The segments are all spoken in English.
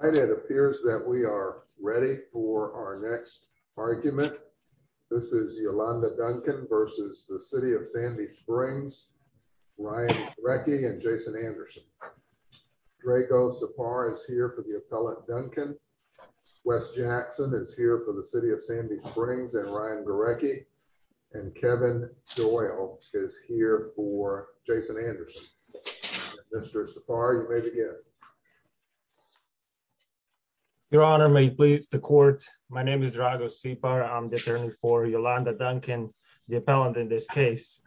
It appears that we are ready for our next argument. This is Yolanda Duncan versus the City of Sandy Springs, Ryan Garecki and Jason Anderson. Draco Sapar is here for the appellate Duncan. Wes Jackson is here for the City of Sandy Springs and Ryan Garecki. And Kevin Doyle is here for Jason Anderson. Mr. Sapar, you may begin. Your Honor, may it please the court. My name is Draco Sapar. I'm the attorney for Yolanda Duncan, the appellant in this case.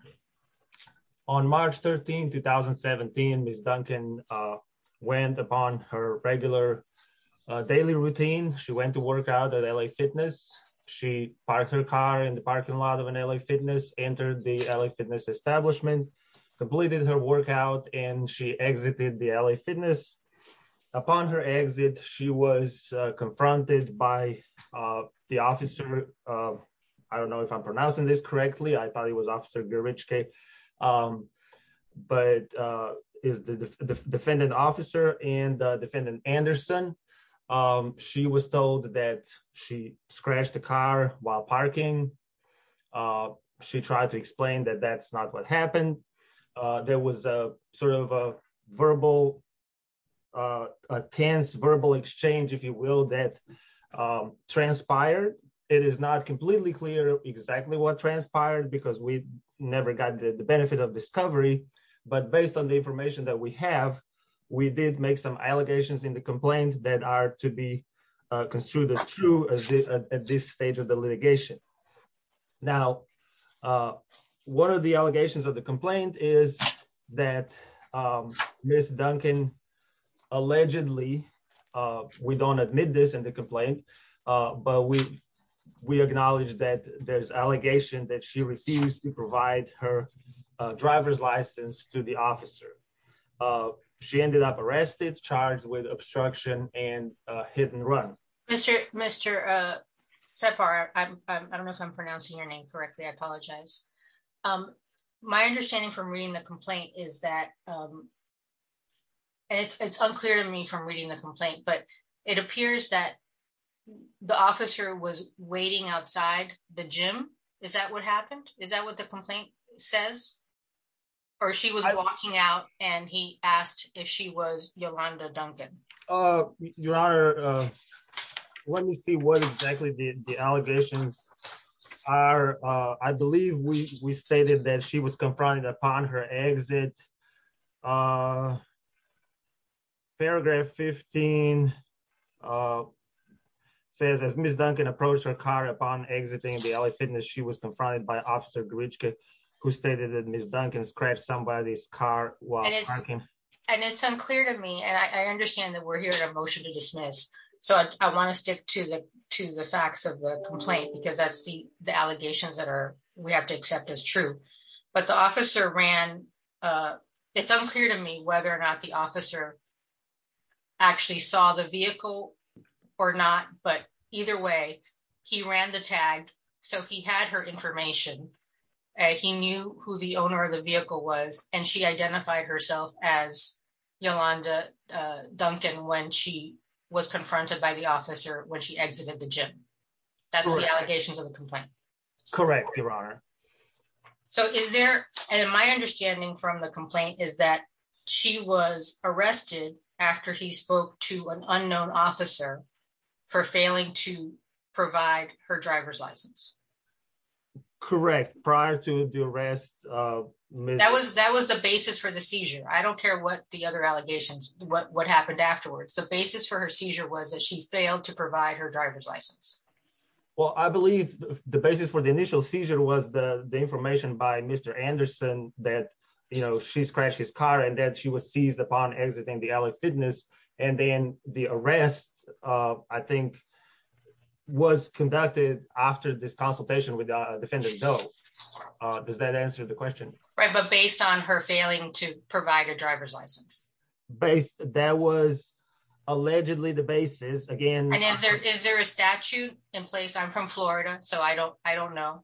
On March 13, 2017, Ms. Duncan went upon her regular daily routine. She went to work out at LA Fitness. She parked her car in the parking lot of an LA Fitness, entered the LA Fitness establishment, completed her workout, and she exited the LA Fitness. Upon her exit, she was confronted by the officer. I don't know if I'm pronouncing this correctly. I thought he was Officer Gerichke, but is the defendant officer and defendant Anderson. She was told that she scratched the parking. She tried to explain that that's not what happened. There was a sort of a verbal, a tense verbal exchange, if you will, that transpired. It is not completely clear exactly what transpired because we never got the benefit of discovery. But based on the information that we have, we did make some allegations in the complaint that are to be construed as true at this stage of the litigation. Now, one of the allegations of the complaint is that Ms. Duncan allegedly, we don't admit this in the complaint, but we acknowledge that there's allegation that she refused to provide her driver's license to the officer. Oh, she ended up arrested, charged with obstruction and hit and run. Mr. Separ, I don't know if I'm pronouncing your name correctly. I apologize. My understanding from reading the complaint is that it's unclear to me from reading the complaint, but it appears that the officer was waiting outside the gym. Is that what happened? Is and he asked if she was Yolanda Duncan. Your Honor, let me see what exactly the allegations are. I believe we stated that she was confronted upon her exit. Paragraph 15 says as Ms. Duncan approached her car upon exiting the LA Fitness, she was and it's unclear to me and I understand that we're hearing a motion to dismiss. So I want to stick to the to the facts of the complaint because that's the the allegations that are we have to accept as true. But the officer ran. It's unclear to me whether or not the officer actually saw the vehicle or not. But either way, he ran the tag. So he had her as Yolanda Duncan when she was confronted by the officer when she exited the gym. That's the allegations of the complaint. Correct, Your Honor. So is there and my understanding from the complaint is that she was arrested after he spoke to an unknown officer for failing to I don't care what the other allegations what what happened afterwards. The basis for her seizure was that she failed to provide her driver's license. Well, I believe the basis for the initial seizure was the information by Mr. Anderson that, you know, she scratched his car and that she was seized upon exiting the LA Fitness. And then the arrest, I think, was conducted after this consultation with Defendant Doe. Does that answer the question? Right. But based on her failing to provide a driver's license base, that was allegedly the basis again. And is there is there a statute in place? I'm from Florida, so I don't I don't know.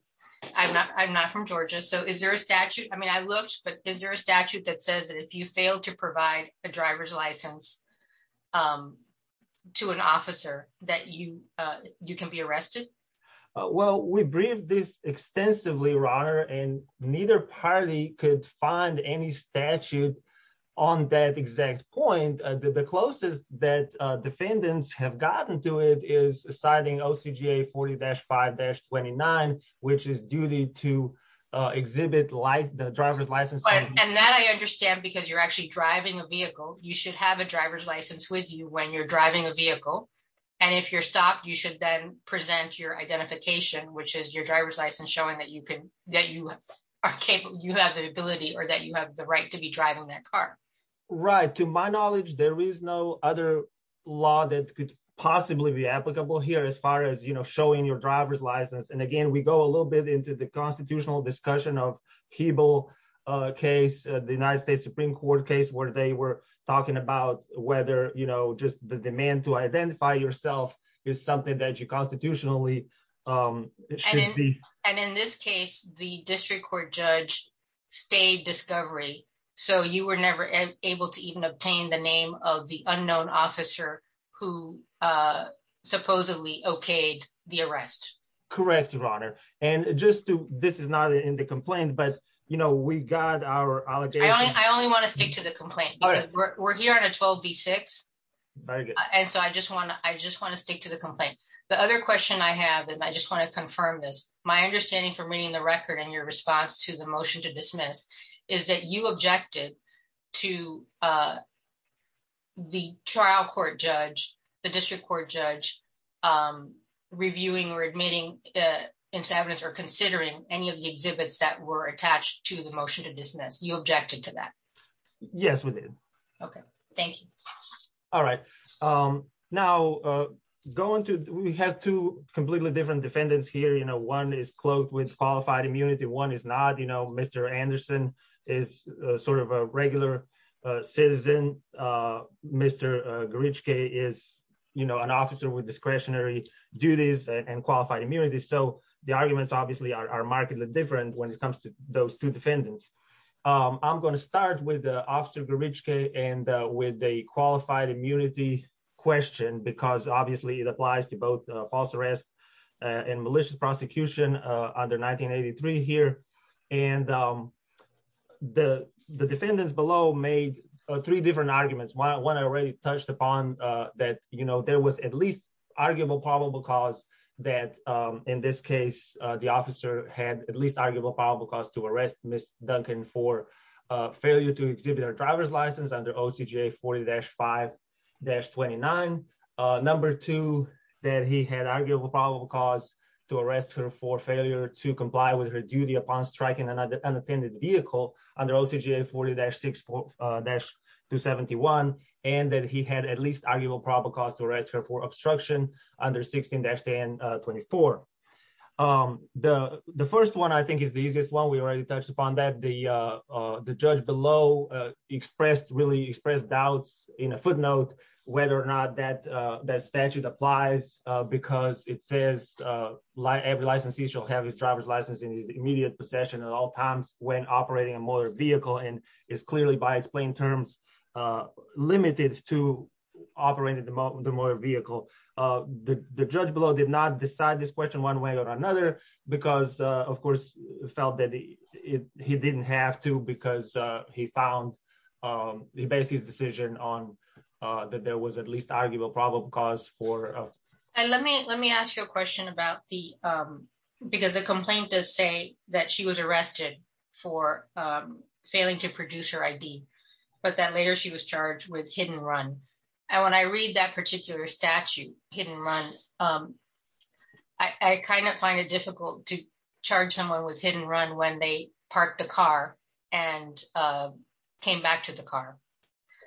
I'm not I'm not from Georgia. So is there a statute? I mean, I looked, but is there a statute that says that if you fail to provide a driver's license to an officer that you you can be arrested? Well, we briefed this extensively, Ronner, and neither party could find any statute on that exact point. The closest that defendants have gotten to it is citing OCGA 40-5-29, which is duty to exhibit the driver's license. And that I understand because you're actually driving a vehicle. You should have a driver's license with you when you're driving a vehicle. And if you're stopped, you should then present your identification, which is your driver's license, showing that you could that you are capable you have the ability or that you have the right to be driving that car. Right. To my knowledge, there is no other law that could possibly be applicable here as far as showing your driver's license. And again, we go a little bit into the constitutional discussion of Hebel case, the United States Supreme Court case, where they were talking about whether, you know, just the demand to identify yourself is something that you constitutionally should be. And in this case, the district court judge stayed discovery. So you were never able to even obtain the name of the unknown officer who supposedly okayed the arrest. Correct, Ronner. And just to this is not in the complaint, but you know, we got our I only want to stick to the complaint. We're here on a 12 v six. And so I just want to I just want to stick to the complaint. The other question I have, and I just want to confirm this, my understanding from reading the record and your response to the motion to dismiss is that you objected to the trial court judge, the district court judge, I'm reviewing or admitting into evidence or considering any of the exhibits that were attached to the motion to dismiss you objected to that? Yes, we did. Okay, thank you. All right. Now, going to we have two completely different defendants here, you know, one is clothed with qualified immunity. One is not, you know, Mr. Anderson is sort of a regular citizen. Mr. Gorichka is, you know, an officer with discretionary duties and qualified immunity. So the arguments obviously are markedly different when it comes to those two defendants. I'm going to start with Officer Gorichka and with a qualified immunity question, because obviously, it applies to both false arrest and malicious prosecution under 1983 here. And the defendants below made three different arguments. One, I already touched upon that, you know, there was at least arguable probable cause that in this case, the officer had at least arguable probable cause to arrest Ms. Duncan for failure to exhibit her driver's license under OCGA 40-5-29. Number two, that he had arguable probable cause to arrest her for failure to comply with her duty upon striking unattended vehicle under OCGA 40-6-271. And that he had at least arguable probable cause to arrest her for obstruction under 16-10-24. The first one, I think is the easiest one, we already touched upon that the judge below expressed really expressed doubts in a footnote, whether or not that statute applies, because it says, like every licensee shall have his driver's license in his possession at all times when operating a motor vehicle and is clearly by its plain terms, limited to operating the motor vehicle. The judge below did not decide this question one way or another, because, of course, felt that he didn't have to because he found the basis decision on that there was at least arguable probable cause for... Let me ask you a question about the, because the complaint does say that she was arrested for failing to produce her ID, but then later she was charged with hit and run. And when I read that particular statute, hit and run, I kind of find it difficult to charge someone with hit and run when they parked the car and came back to the car.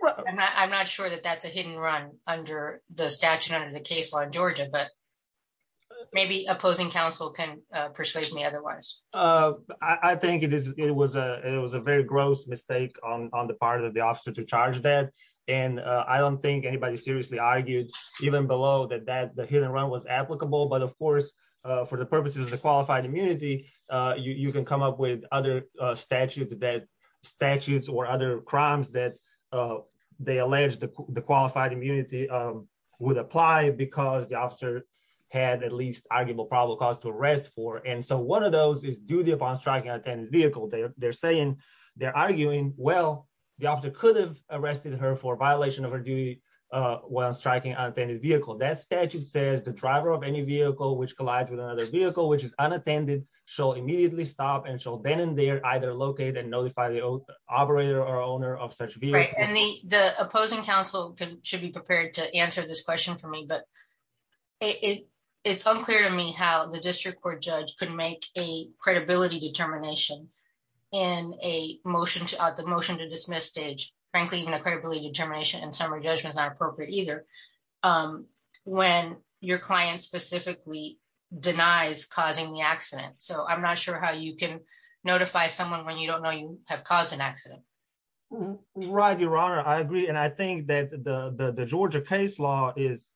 I'm not sure that that's a hit and run under the maybe opposing counsel can persuade me otherwise. I think it was a it was a very gross mistake on the part of the officer to charge that. And I don't think anybody seriously argued even below that that the hit and run was applicable. But of course, for the purposes of the qualified immunity, you can come up with other statute that statutes or other crimes that they allege the qualified immunity would apply because the officer had at least arguable probable cause to arrest for. And so one of those is duty upon striking an unattended vehicle. They're saying, they're arguing, well, the officer could have arrested her for violation of her duty while striking an unattended vehicle. That statute says the driver of any vehicle which collides with another vehicle which is unattended shall immediately stop and shall then and there either locate and the opposing counsel should be prepared to answer this question for me. But it's unclear to me how the district court judge could make a credibility determination in a motion to the motion to dismiss stage, frankly, even a credibility determination and summary judgment is not appropriate either. When your client specifically denies causing the accident. So I'm not sure how you can notify someone when you don't know you have caused an I agree. And I think that the Georgia case law is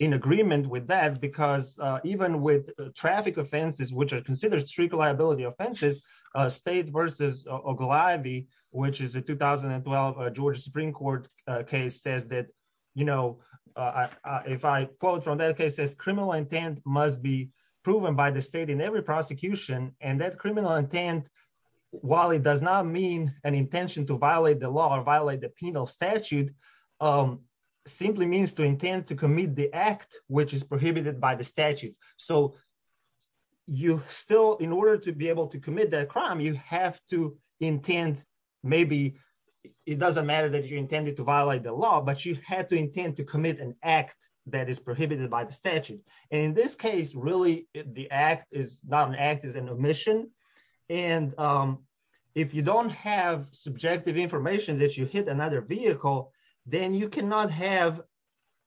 in agreement with that, because even with traffic offenses, which are considered strict liability offenses, state versus Oglavi, which is a 2012 Georgia Supreme Court case says that, you know, if I quote from that case says criminal intent must be proven by the state in every prosecution, and that criminal intent, while it does not mean an intention to violate the law or violate the penal statute, simply means to intend to commit the act which is prohibited by the statute. So you still in order to be able to commit that crime, you have to intend, maybe it doesn't matter that you intended to violate the law, but you had to intend to commit an act that is prohibited by the statute. And in this case, really, the act is not an act is an omission. And if you don't have subjective information that you hit another vehicle, then you cannot have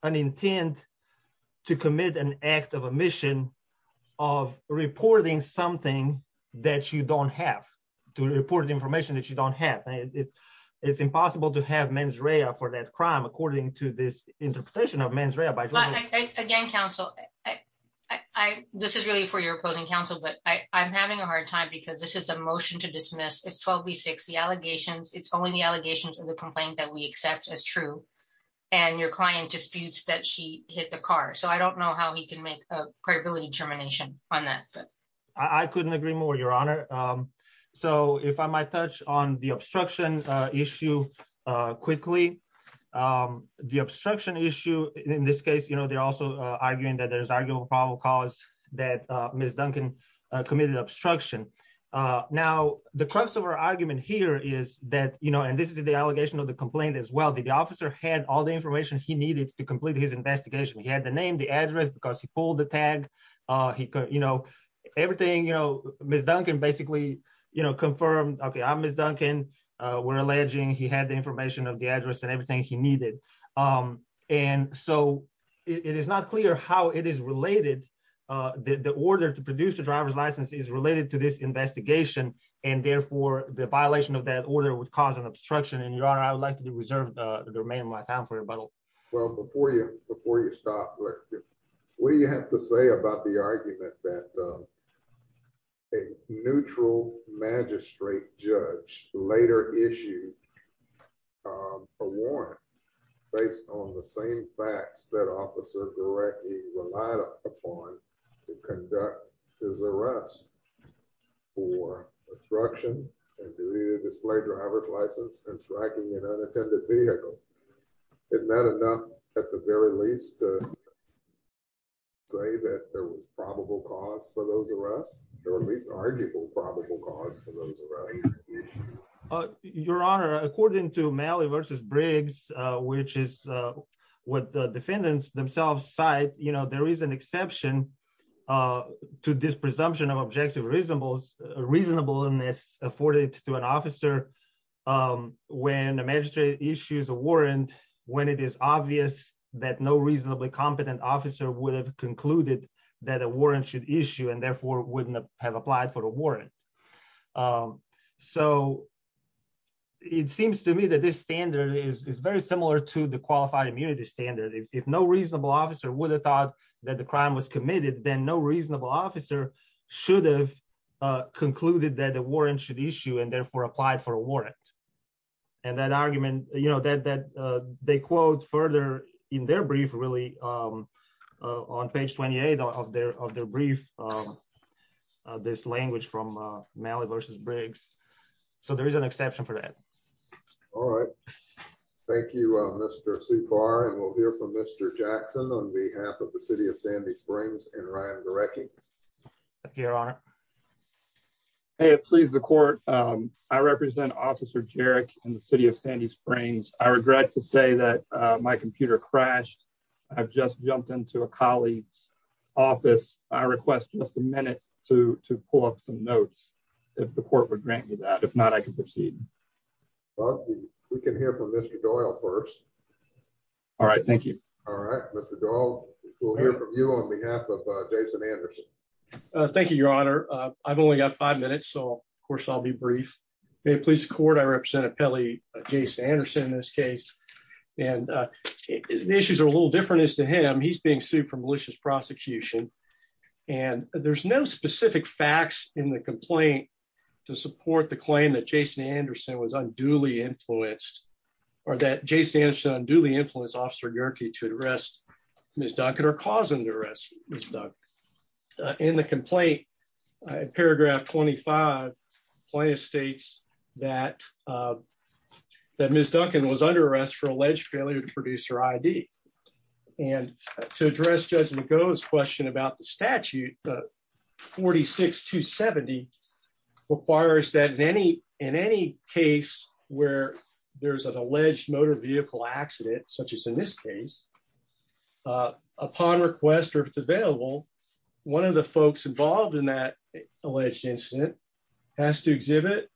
an intent to commit an act of omission of reporting something that you don't have to report the information that you don't have. It's impossible to have mens rea for that crime, according to this interpretation of mens Again, counsel, I this is really for your opposing counsel, but I'm having a hard time because this is a motion to dismiss is 12 v six, the allegations, it's only the allegations of the complaint that we accept as true. And your client disputes that she hit the car. So I don't know how he can make a credibility determination on that. But I couldn't agree more, Your Honor. So if I might touch on the obstruction issue, quickly, the obstruction issue, in this case, you know, they're also arguing that there's arguable probable cause that Ms. Duncan committed obstruction. Now, the crux of our argument here is that, you know, and this is the allegation of the complaint as well, the officer had all the information he needed to complete his investigation, he had the name, the address, because he pulled the tag, he could, you know, everything, you know, Ms. Duncan basically, you know, confirmed, okay, I'm Ms. Duncan, we're alleging he had the information of the address and everything he needed. And so it is not clear how it is related, the order to produce a driver's license is related to this investigation. And therefore, the violation of that order would cause an obstruction. And Your Honor, I would like to reserve the remaining my time for rebuttal. Well, before you before you stop, what do you have to a neutral magistrate judge later issued a warrant based on the same facts that officer directly relied upon to conduct his arrest for obstruction and to display driver's license and striking an unattended vehicle. Is that enough, at the very least, to say that there was probable cause for those arrests? There was arguable probable cause for those arrests? Your Honor, according to Malley versus Briggs, which is what the defendants themselves cite, you know, there is an exception to this presumption of objective reasonableness afforded to an officer. When a magistrate issues a warrant, when it is obvious that no reasonably competent officer would have concluded that a have applied for a warrant. So it seems to me that this standard is very similar to the qualified immunity standard. If no reasonable officer would have thought that the crime was committed, then no reasonable officer should have concluded that a warrant should issue and therefore applied for a warrant. And that argument, you know, that they quote further in their brief, really, on page 28 of their of their brief, this language from Malley versus Briggs. So there is an exception for that. All right. Thank you, Mr. Supar. And we'll hear from Mr. Jackson on behalf of the city of Sandy Springs and Ryan directly. Your Honor. Hey, it pleases the court. I represent Officer Jarek in the city of Sandy Springs. I regret to say that my computer crashed. I've just jumped into a colleague's office. I request just a minute to pull up some notes. If the court would grant me that. If not, I can proceed. We can hear from Mr. Doyle first. All right. Thank you. All right, Mr. Doyle. We'll hear from you on behalf of Jason Anderson. Thank you, Your Honor. I've only got five minutes. So of Jason Anderson in this case. And the issues are a little different as to him. He's being sued for malicious prosecution. And there's no specific facts in the complaint to support the claim that Jason Anderson was unduly influenced or that Jason Anderson unduly influenced Officer Jarek to arrest Ms. Duncan or cause him to arrest Ms. Duncan. In the complaint, paragraph 25, the complaint states that Ms. Duncan was under arrest for alleged failure to produce her ID. And to address Judge McGough's question about the statute, 46-270 requires that in any case where there's an alleged motor vehicle accident, such as in this case, upon request or if it's available, one of the folks involved in that alleged incident has to exhibit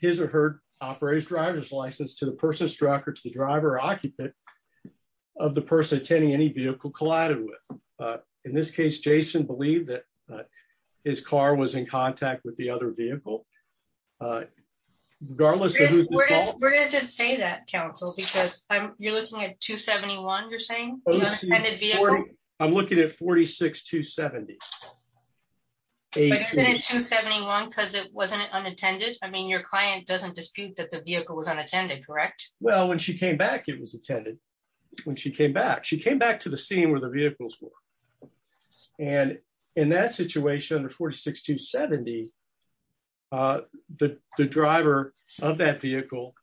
his or her operator's driver's license to the person struck or to the driver occupant of the person attending any vehicle collided with. In this case, Jason believed that his car was in contact with the other vehicle. Regardless of who's involved. Where does it say that, counsel? Because you're looking at 271, you're saying? I'm looking at 46-270. But is it in 271 because it wasn't unattended? I mean, your client doesn't dispute that the vehicle was unattended, correct? Well, when she came back, it was attended. When she came back, she came back to the scene where the vehicles were. And in that situation, under 46-270, the driver of that vehicle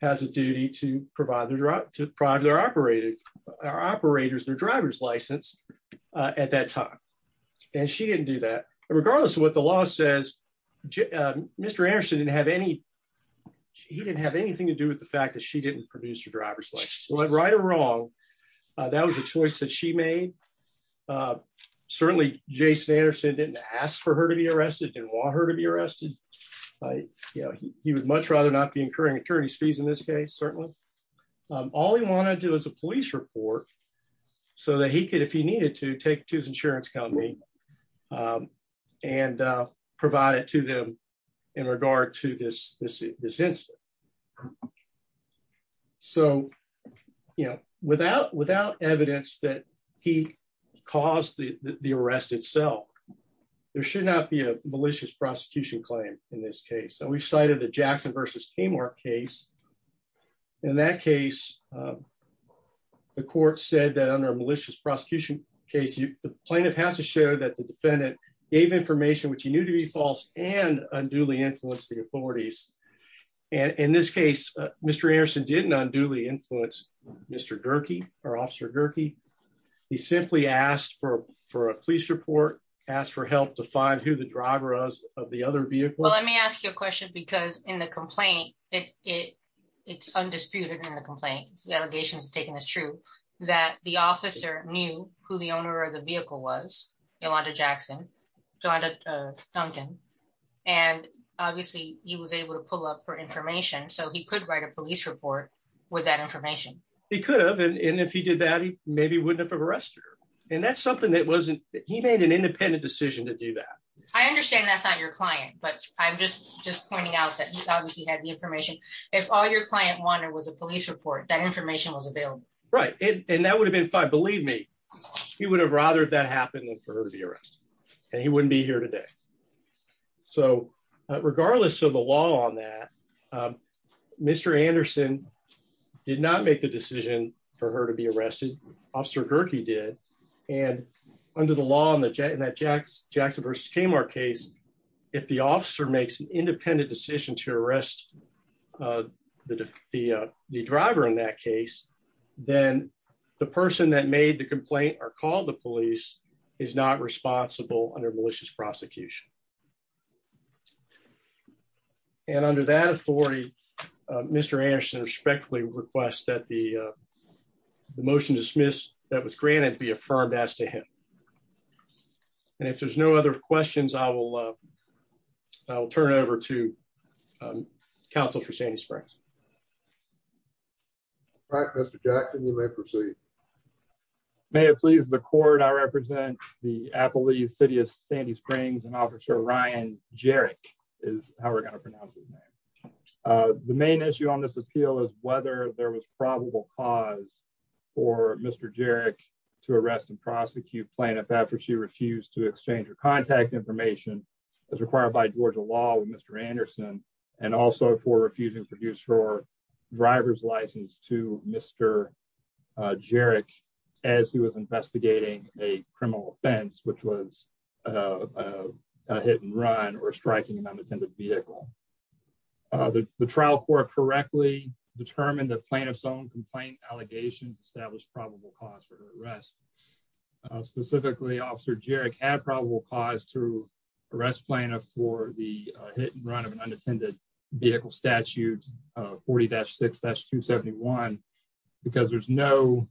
has a duty to provide their operator's driver's license at that time. She didn't do that. Regardless of what the law says, Mr. Anderson didn't have anything to do with the fact that she didn't produce your driver's license. Right or wrong, that was a choice that she made. Certainly, Jason Anderson didn't ask for her to be arrested, didn't want her to be arrested. He would much rather not be incurring attorney's fees in this case, certainly. All he wanted to do was a police report so that he could, if he needed to, take it to his insurance company and provide it to them in regard to this incident. So, you know, without evidence that he caused the arrest itself, there should not be a malicious prosecution claim in this case. So we cited the Jackson v. Tamar case. In that case, the court said that under a malicious prosecution case, the plaintiff has to show that the defendant gave information which he knew to be false and unduly influenced the authorities. In this case, Mr. Anderson didn't unduly influence Mr. Gerke or Officer Gerke. He simply asked for a police report, asked for help to find who the driver was of the other vehicle. Well, let me ask you a question because in the complaint, it's undisputed in the complaint, the allegation is taken as true, that the officer knew who the owner of the vehicle was, Yolanda Duncan, and obviously he was able to pull up her information so he could write a police report with that information. He could have, and if he did that, he maybe wouldn't have arrested her. And that's something that wasn't, he made an independent decision to do that. I understand that's not your client, but I'm just pointing out that he had the information. If all your client wanted was a police report, that information was available. Right, and that would have been fine. Believe me, he would have rather that happened than for her to be arrested, and he wouldn't be here today. So regardless of the law on that, Mr. Anderson did not make the decision for her to be arrested. Officer Gerke did. And under the law in that Jackson v. Kmart case, if the officer makes an independent decision to arrest the driver in that case, then the person that made the complaint or called the police is not responsible under malicious prosecution. And under that authority, Mr. Anderson respectfully requests that the questions I will turn over to counsel for Sandy Springs. All right, Mr. Jackson, you may proceed. May it please the court, I represent the Appalachian City of Sandy Springs and Officer Ryan Gerke is how we're going to pronounce his name. The main issue on this appeal is whether there was probable cause for Mr. Gerke to arrest and prosecute plaintiff after she refused to contact information as required by Georgia law with Mr. Anderson and also for refusing to produce her driver's license to Mr. Gerke as he was investigating a criminal offense which was hit and run or striking an unattended vehicle. The trial court correctly determined that plaintiff's own complaint allegations established probable cause for her arrest. Specifically, Officer Gerke had probable cause to arrest plaintiff for the hit and run of an unattended vehicle statute 40-6-271 because there's no...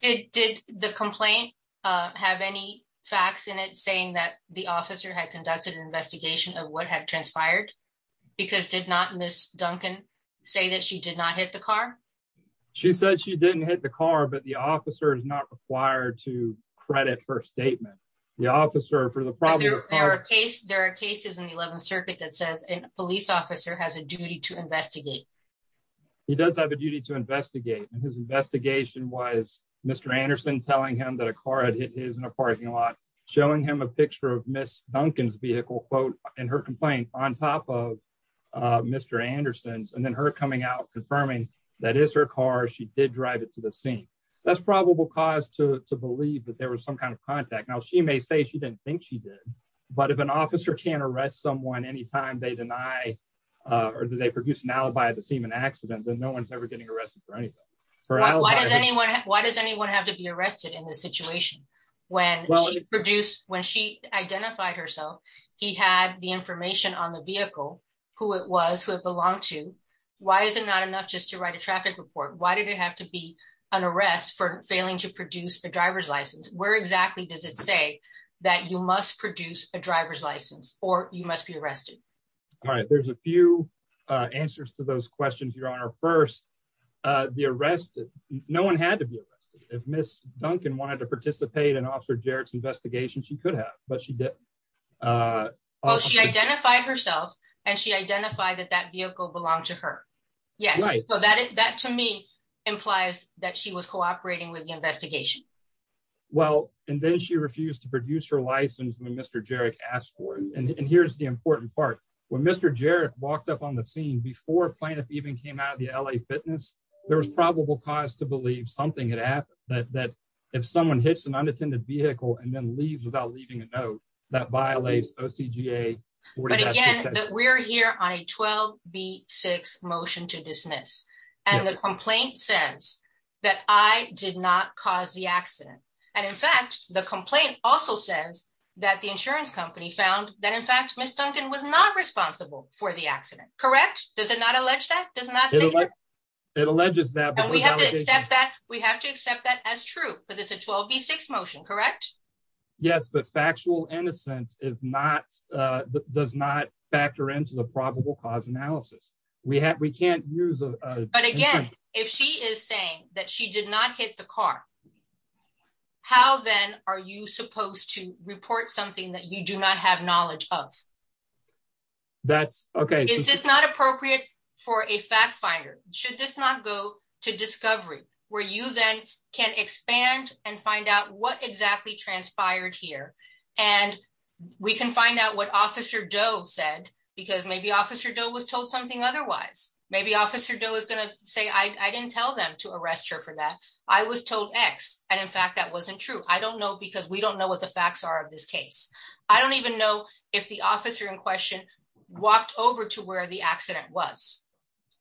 Did the complaint have any facts in it saying that the officer had conducted an investigation of what had transpired because did not Ms. Duncan say that she did not hit the car? She said she didn't hit the car but the officer is not required to credit her statement. There are cases in the 11th circuit that says a police officer has a duty to investigate. He does have a duty to investigate and his investigation was Mr. Anderson telling him that a car had hit his in a parking lot showing him a picture of Ms. Duncan's vehicle quote in her complaint on top of Mr. Anderson's and then her coming out confirming that is her car she did the scene. That's probable cause to believe that there was some kind of contact. Now she may say she didn't think she did but if an officer can't arrest someone anytime they deny or they produce an alibi to seem an accident then no one's ever getting arrested for anything. Why does anyone have to be arrested in this situation? When she identified herself, he had the information on the vehicle, who it was, who it belonged to. Why is it not enough just to write a traffic report? Why did it have to be an arrest for failing to produce a driver's license? Where exactly does it say that you must produce a driver's license or you must be arrested? All right there's a few answers to those questions your honor. First, the arrest no one had to be arrested. If Ms. Duncan wanted to participate in Officer Jarrett's investigation she could have but she didn't. Well she identified herself and she identified that that vehicle belonged to her. Yes so that to me implies that she was cooperating with the investigation. Well and then she refused to produce her license when Mr. Jarrett asked for it and here's the important part. When Mr. Jarrett walked up on the scene before plaintiff even came out of the LA fitness there was probable cause to believe something had happened that if someone hits an unattended vehicle and then leaves without leaving a note that violates OCGA. But again that we're here on a 12 v 6 motion to dismiss and the complaint says that I did not cause the accident and in fact the complaint also says that the insurance company found that in fact Ms. Duncan was not responsible for the accident. Correct? Does it not allege that? It alleges that we have to accept that as true because it's a 12 v 6 motion correct? Yes but factual innocence is not uh does not factor into the probable cause analysis. We have we can't use a but again if she is saying that she did not hit the car how then are you supposed to report something that you do not have knowledge of? That's okay is this not appropriate for a fact finder? Should this not go to discovery where you then can expand and find out what exactly transpired here and we can find out what officer Doe said because maybe officer Doe was told something otherwise. Maybe officer Doe is going to say I didn't tell them to arrest her for that. I was told x and in fact that wasn't true. I don't know because we don't know what the facts are of this case. I don't even know if the officer in question walked over to where the accident was.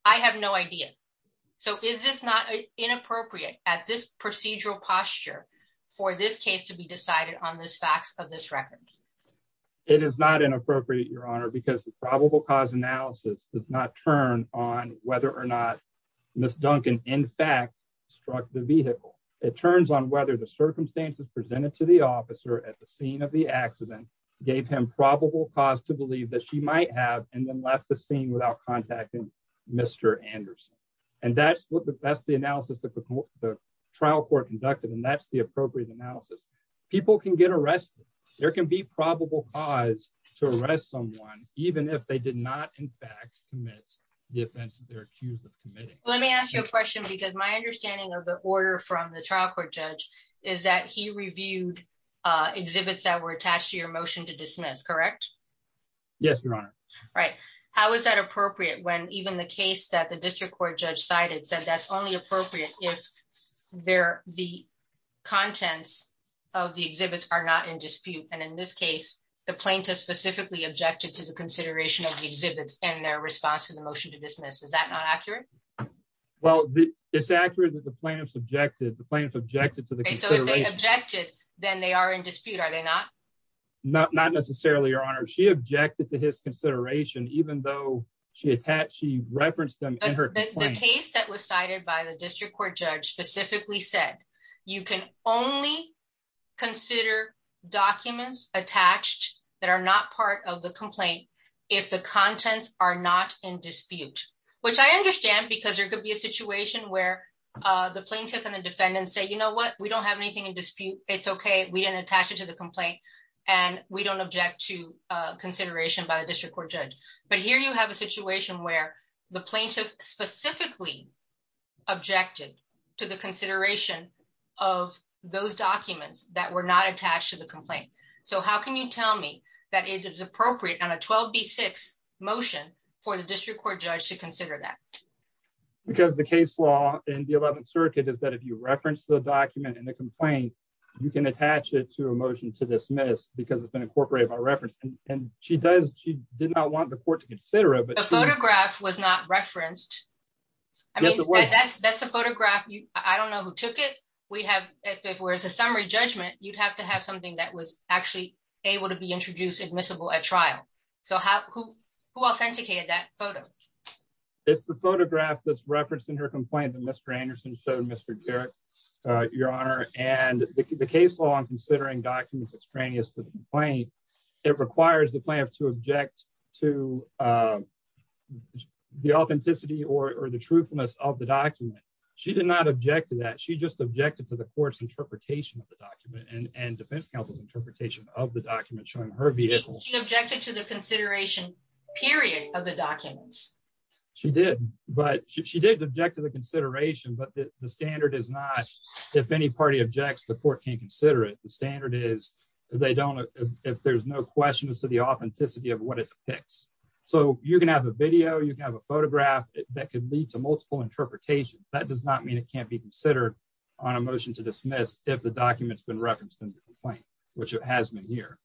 I have no idea. So is this not inappropriate at this procedural posture for this case to be decided on this facts of this record? It is not inappropriate your honor because the probable cause analysis does not turn on whether or not Miss Duncan in fact struck the vehicle. It turns on whether the circumstances presented to the officer at the scene of the accident gave him probable cause to believe that she might have and then left the scene without contacting Mr. Anderson and that's what the that's the analysis that the trial court conducted and that's the appropriate analysis. People can get arrested. There can be probable cause to arrest someone even if they did not in fact commit the offense that they're accused of committing. Let me ask you a question because my understanding of the order from the trial court judge is that he reviewed exhibits that were attached to your motion to dismiss correct? Yes your honor. Right. How is that appropriate when even the case that the district court judge cited said that's only appropriate if there the contents of the exhibits are not in dispute and in this case the plaintiff specifically objected to the consideration of the exhibits and their response to the motion to dismiss. Is that not accurate? Well it's accurate that the plaintiffs objected. The plaintiffs objected to the objected then they are in dispute are they not? Not not necessarily your honor. She objected to his consideration even though she attached she referenced them in her case that was cited by the district court judge specifically said you can only consider documents attached that are not part of the complaint if the contents are not in dispute which I understand because there could be a situation where the plaintiff and the defendant say you know what we don't have anything in dispute it's okay we didn't attach it to the complaint and we don't object to consideration by the district court judge but here you have a situation where the plaintiff specifically objected to the consideration of those documents that were not attached to the complaint so how can you tell me that it is appropriate on a 12b6 motion for the district court judge to consider that? Because the case law in the 11th circuit is that if you reference the document and the complaint you can attach it to a motion to dismiss because it's been incorporated by reference and she does she did not want the court to consider it but the photograph was not referenced I mean that's that's a photograph you I don't know who took it we have if it were as a summary judgment you'd have to have something that was actually able to be introduced admissible at trial so how who who authenticated that photo? It's the photograph that's referenced in her complaint that Mr. Anderson showed Mr. Garrett your honor and the case law on considering documents extraneous to the complaint it requires the plaintiff to object to the authenticity or the truthfulness of the document she did not object to that she just objected to the court's interpretation of the document and and defense counsel's interpretation of the document showing her vehicle. She objected to the consideration period of the documents. She did but she did object to the consideration but the standard is not if any party objects the court can consider it the standard is they don't if there's no question as to the authenticity of what it depicts so you can have a video you can have a photograph that could lead to multiple interpretations that does not mean it can't be considered on a motion to dismiss if the document's been referenced in the complaint which it has been here.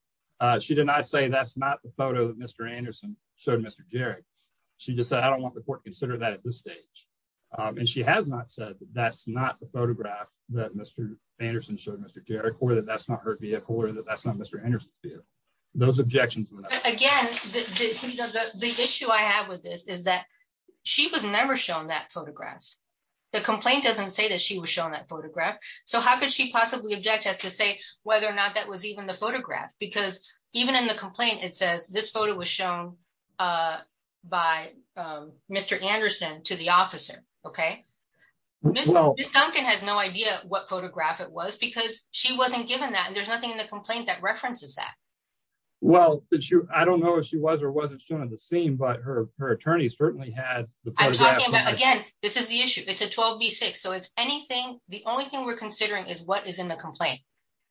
She did not say that's not the photo that Mr. Anderson showed Mr. Jerry she just said I don't want the court to consider that at this stage and she has not said that's not the photograph that Mr. Anderson showed Mr. Garrett or that that's not her vehicle or that that's not Mr. Anderson those objections again the issue I have with this is that she was never shown that photograph the complaint doesn't say that she was shown that photograph so how could she possibly object us to say whether or not that was even the photograph because even in the complaint it says this photo was shown by Mr. Anderson to the officer okay well Ms. Duncan has no idea what photograph it was because she wasn't given that and there's nothing in the complaint that references that well did she I don't know if she was or wasn't shown on the scene but her her attorneys certainly had I'm talking about again this is the issue it's a 12b6 so it's anything the only thing we're considering is what is in the complaint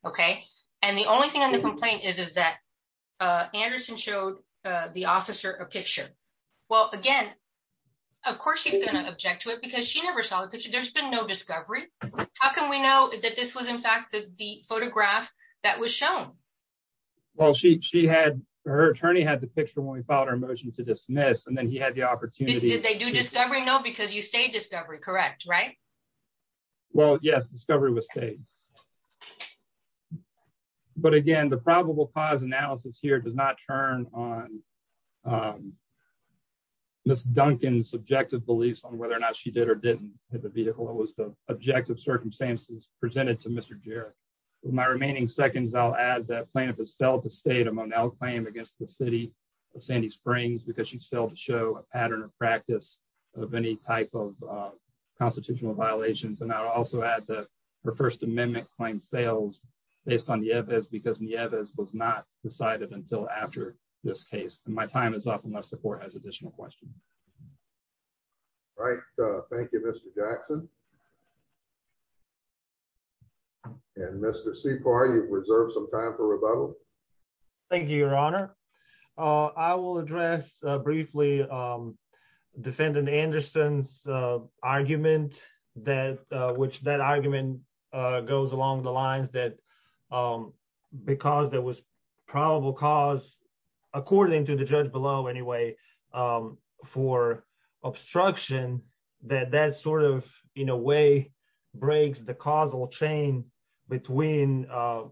okay and the only thing on the complaint is is that uh Anderson showed uh the object to it because she never saw the picture there's been no discovery how can we know that this was in fact the photograph that was shown well she she had her attorney had the picture when we filed our motion to dismiss and then he had the opportunity did they do discovery no because you stayed discovery correct right well yes discovery was staged but again the probable cause analysis here does not turn on um Ms. Duncan's subjective beliefs on whether or not she did or didn't hit the vehicle it was the objective circumstances presented to Mr. Jarrett my remaining seconds I'll add that plaintiff has failed to state a monel claim against the city of Sandy Springs because she failed to show a pattern of practice of any type of constitutional violations and I'll also add that her first amendment claim fails based on Nieves because Nieves was not decided until after this case and my time is up unless the court has additional questions right uh thank you Mr. Jackson and Mr. Sepoy you've reserved some time for rebuttal thank you your honor uh I will address uh briefly um defendant Anderson's uh argument that uh which that argument uh goes along the um for obstruction that that sort of in a way breaks the causal chain between uh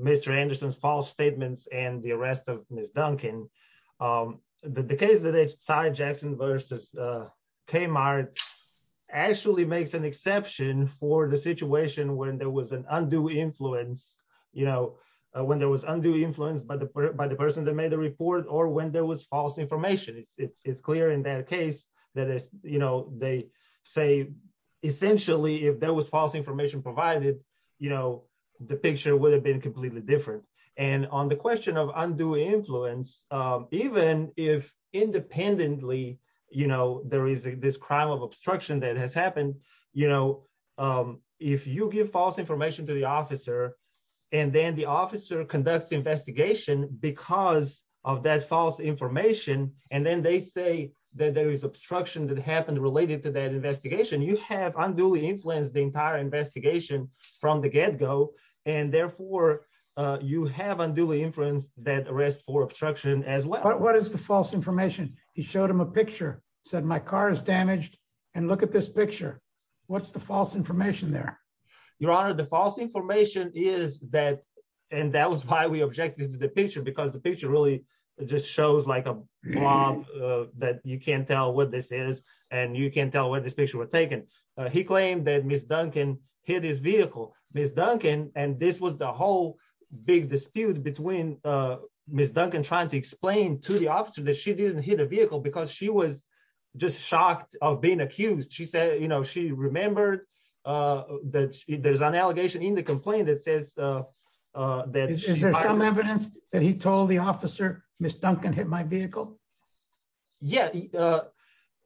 Mr. Anderson's false statements and the arrest of Ms. Duncan um the case that they decide Jackson versus uh Kmart actually makes an exception for the situation when there was an undue influence you know when there was undue influence by the by the person that made the report or when there was false information it's it's it's clear in that case that is you know they say essentially if there was false information provided you know the picture would have been completely different and on the question of undue influence um even if independently you know there is this crime of obstruction that has happened you know um if you give false information to the officer and then the and then they say that there is obstruction that happened related to that investigation you have unduly influenced the entire investigation from the get-go and therefore uh you have unduly influenced that arrest for obstruction as well what is the false information he showed him a picture said my car is damaged and look at this picture what's the false information there your honor the false information is that and that was why we objected to the picture because the picture really just shows like a blob that you can't tell what this is and you can't tell where this picture was taken he claimed that miss duncan hit his vehicle miss duncan and this was the whole big dispute between uh miss duncan trying to explain to the officer that she didn't hit a vehicle because she was just shocked of being accused she said you know she remembered uh that there's an allegation in the complaint that says uh uh that is there some evidence that he told the officer miss duncan hit my vehicle yeah uh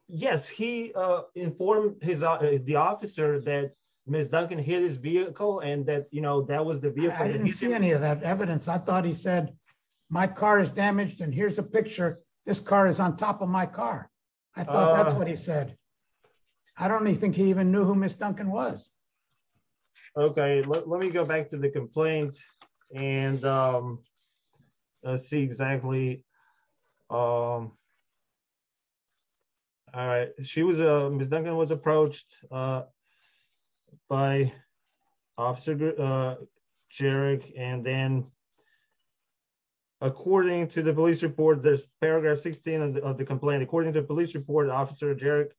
yes he uh informed his the officer that miss duncan hit his vehicle and that you know that was the vehicle i didn't see any of that evidence i thought he said my car is damaged and here's a picture this car is on top of my car i thought that's what he said i don't think he even knew who miss duncan was okay let me go back to the complaint and um let's see exactly um all right she was a miss duncan was approached uh by officer uh jerek and then according to the police report there's paragraph 16 of the complaint according to police report officer jerek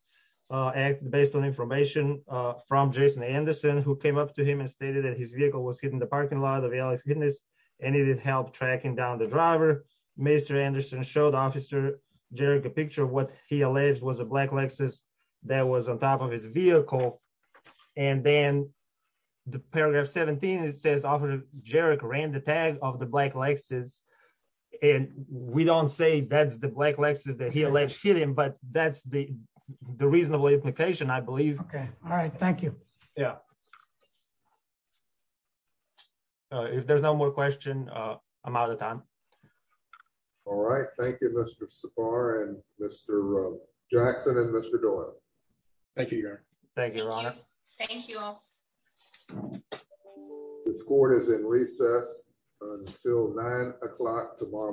uh acted based on information uh from jason anderson who came up to him and stated that his vehicle was hit in the parking lot of alice hitness and it did help tracking down the driver mr anderson showed officer jerek a picture of what he alleged was a black lexus that was on top of his vehicle and then the paragraph 17 it says officer jerek ran the tag of the black lexus and we don't say that's the black lexus that he alleged hit him but that's the the reasonable implication i believe okay all right thank you yeah uh if there's no more question uh i'm out of time all right thank you mr safar and mr jackson and mr doyle thank you thank you thank you all this court is in recess until nine o'clock tomorrow morning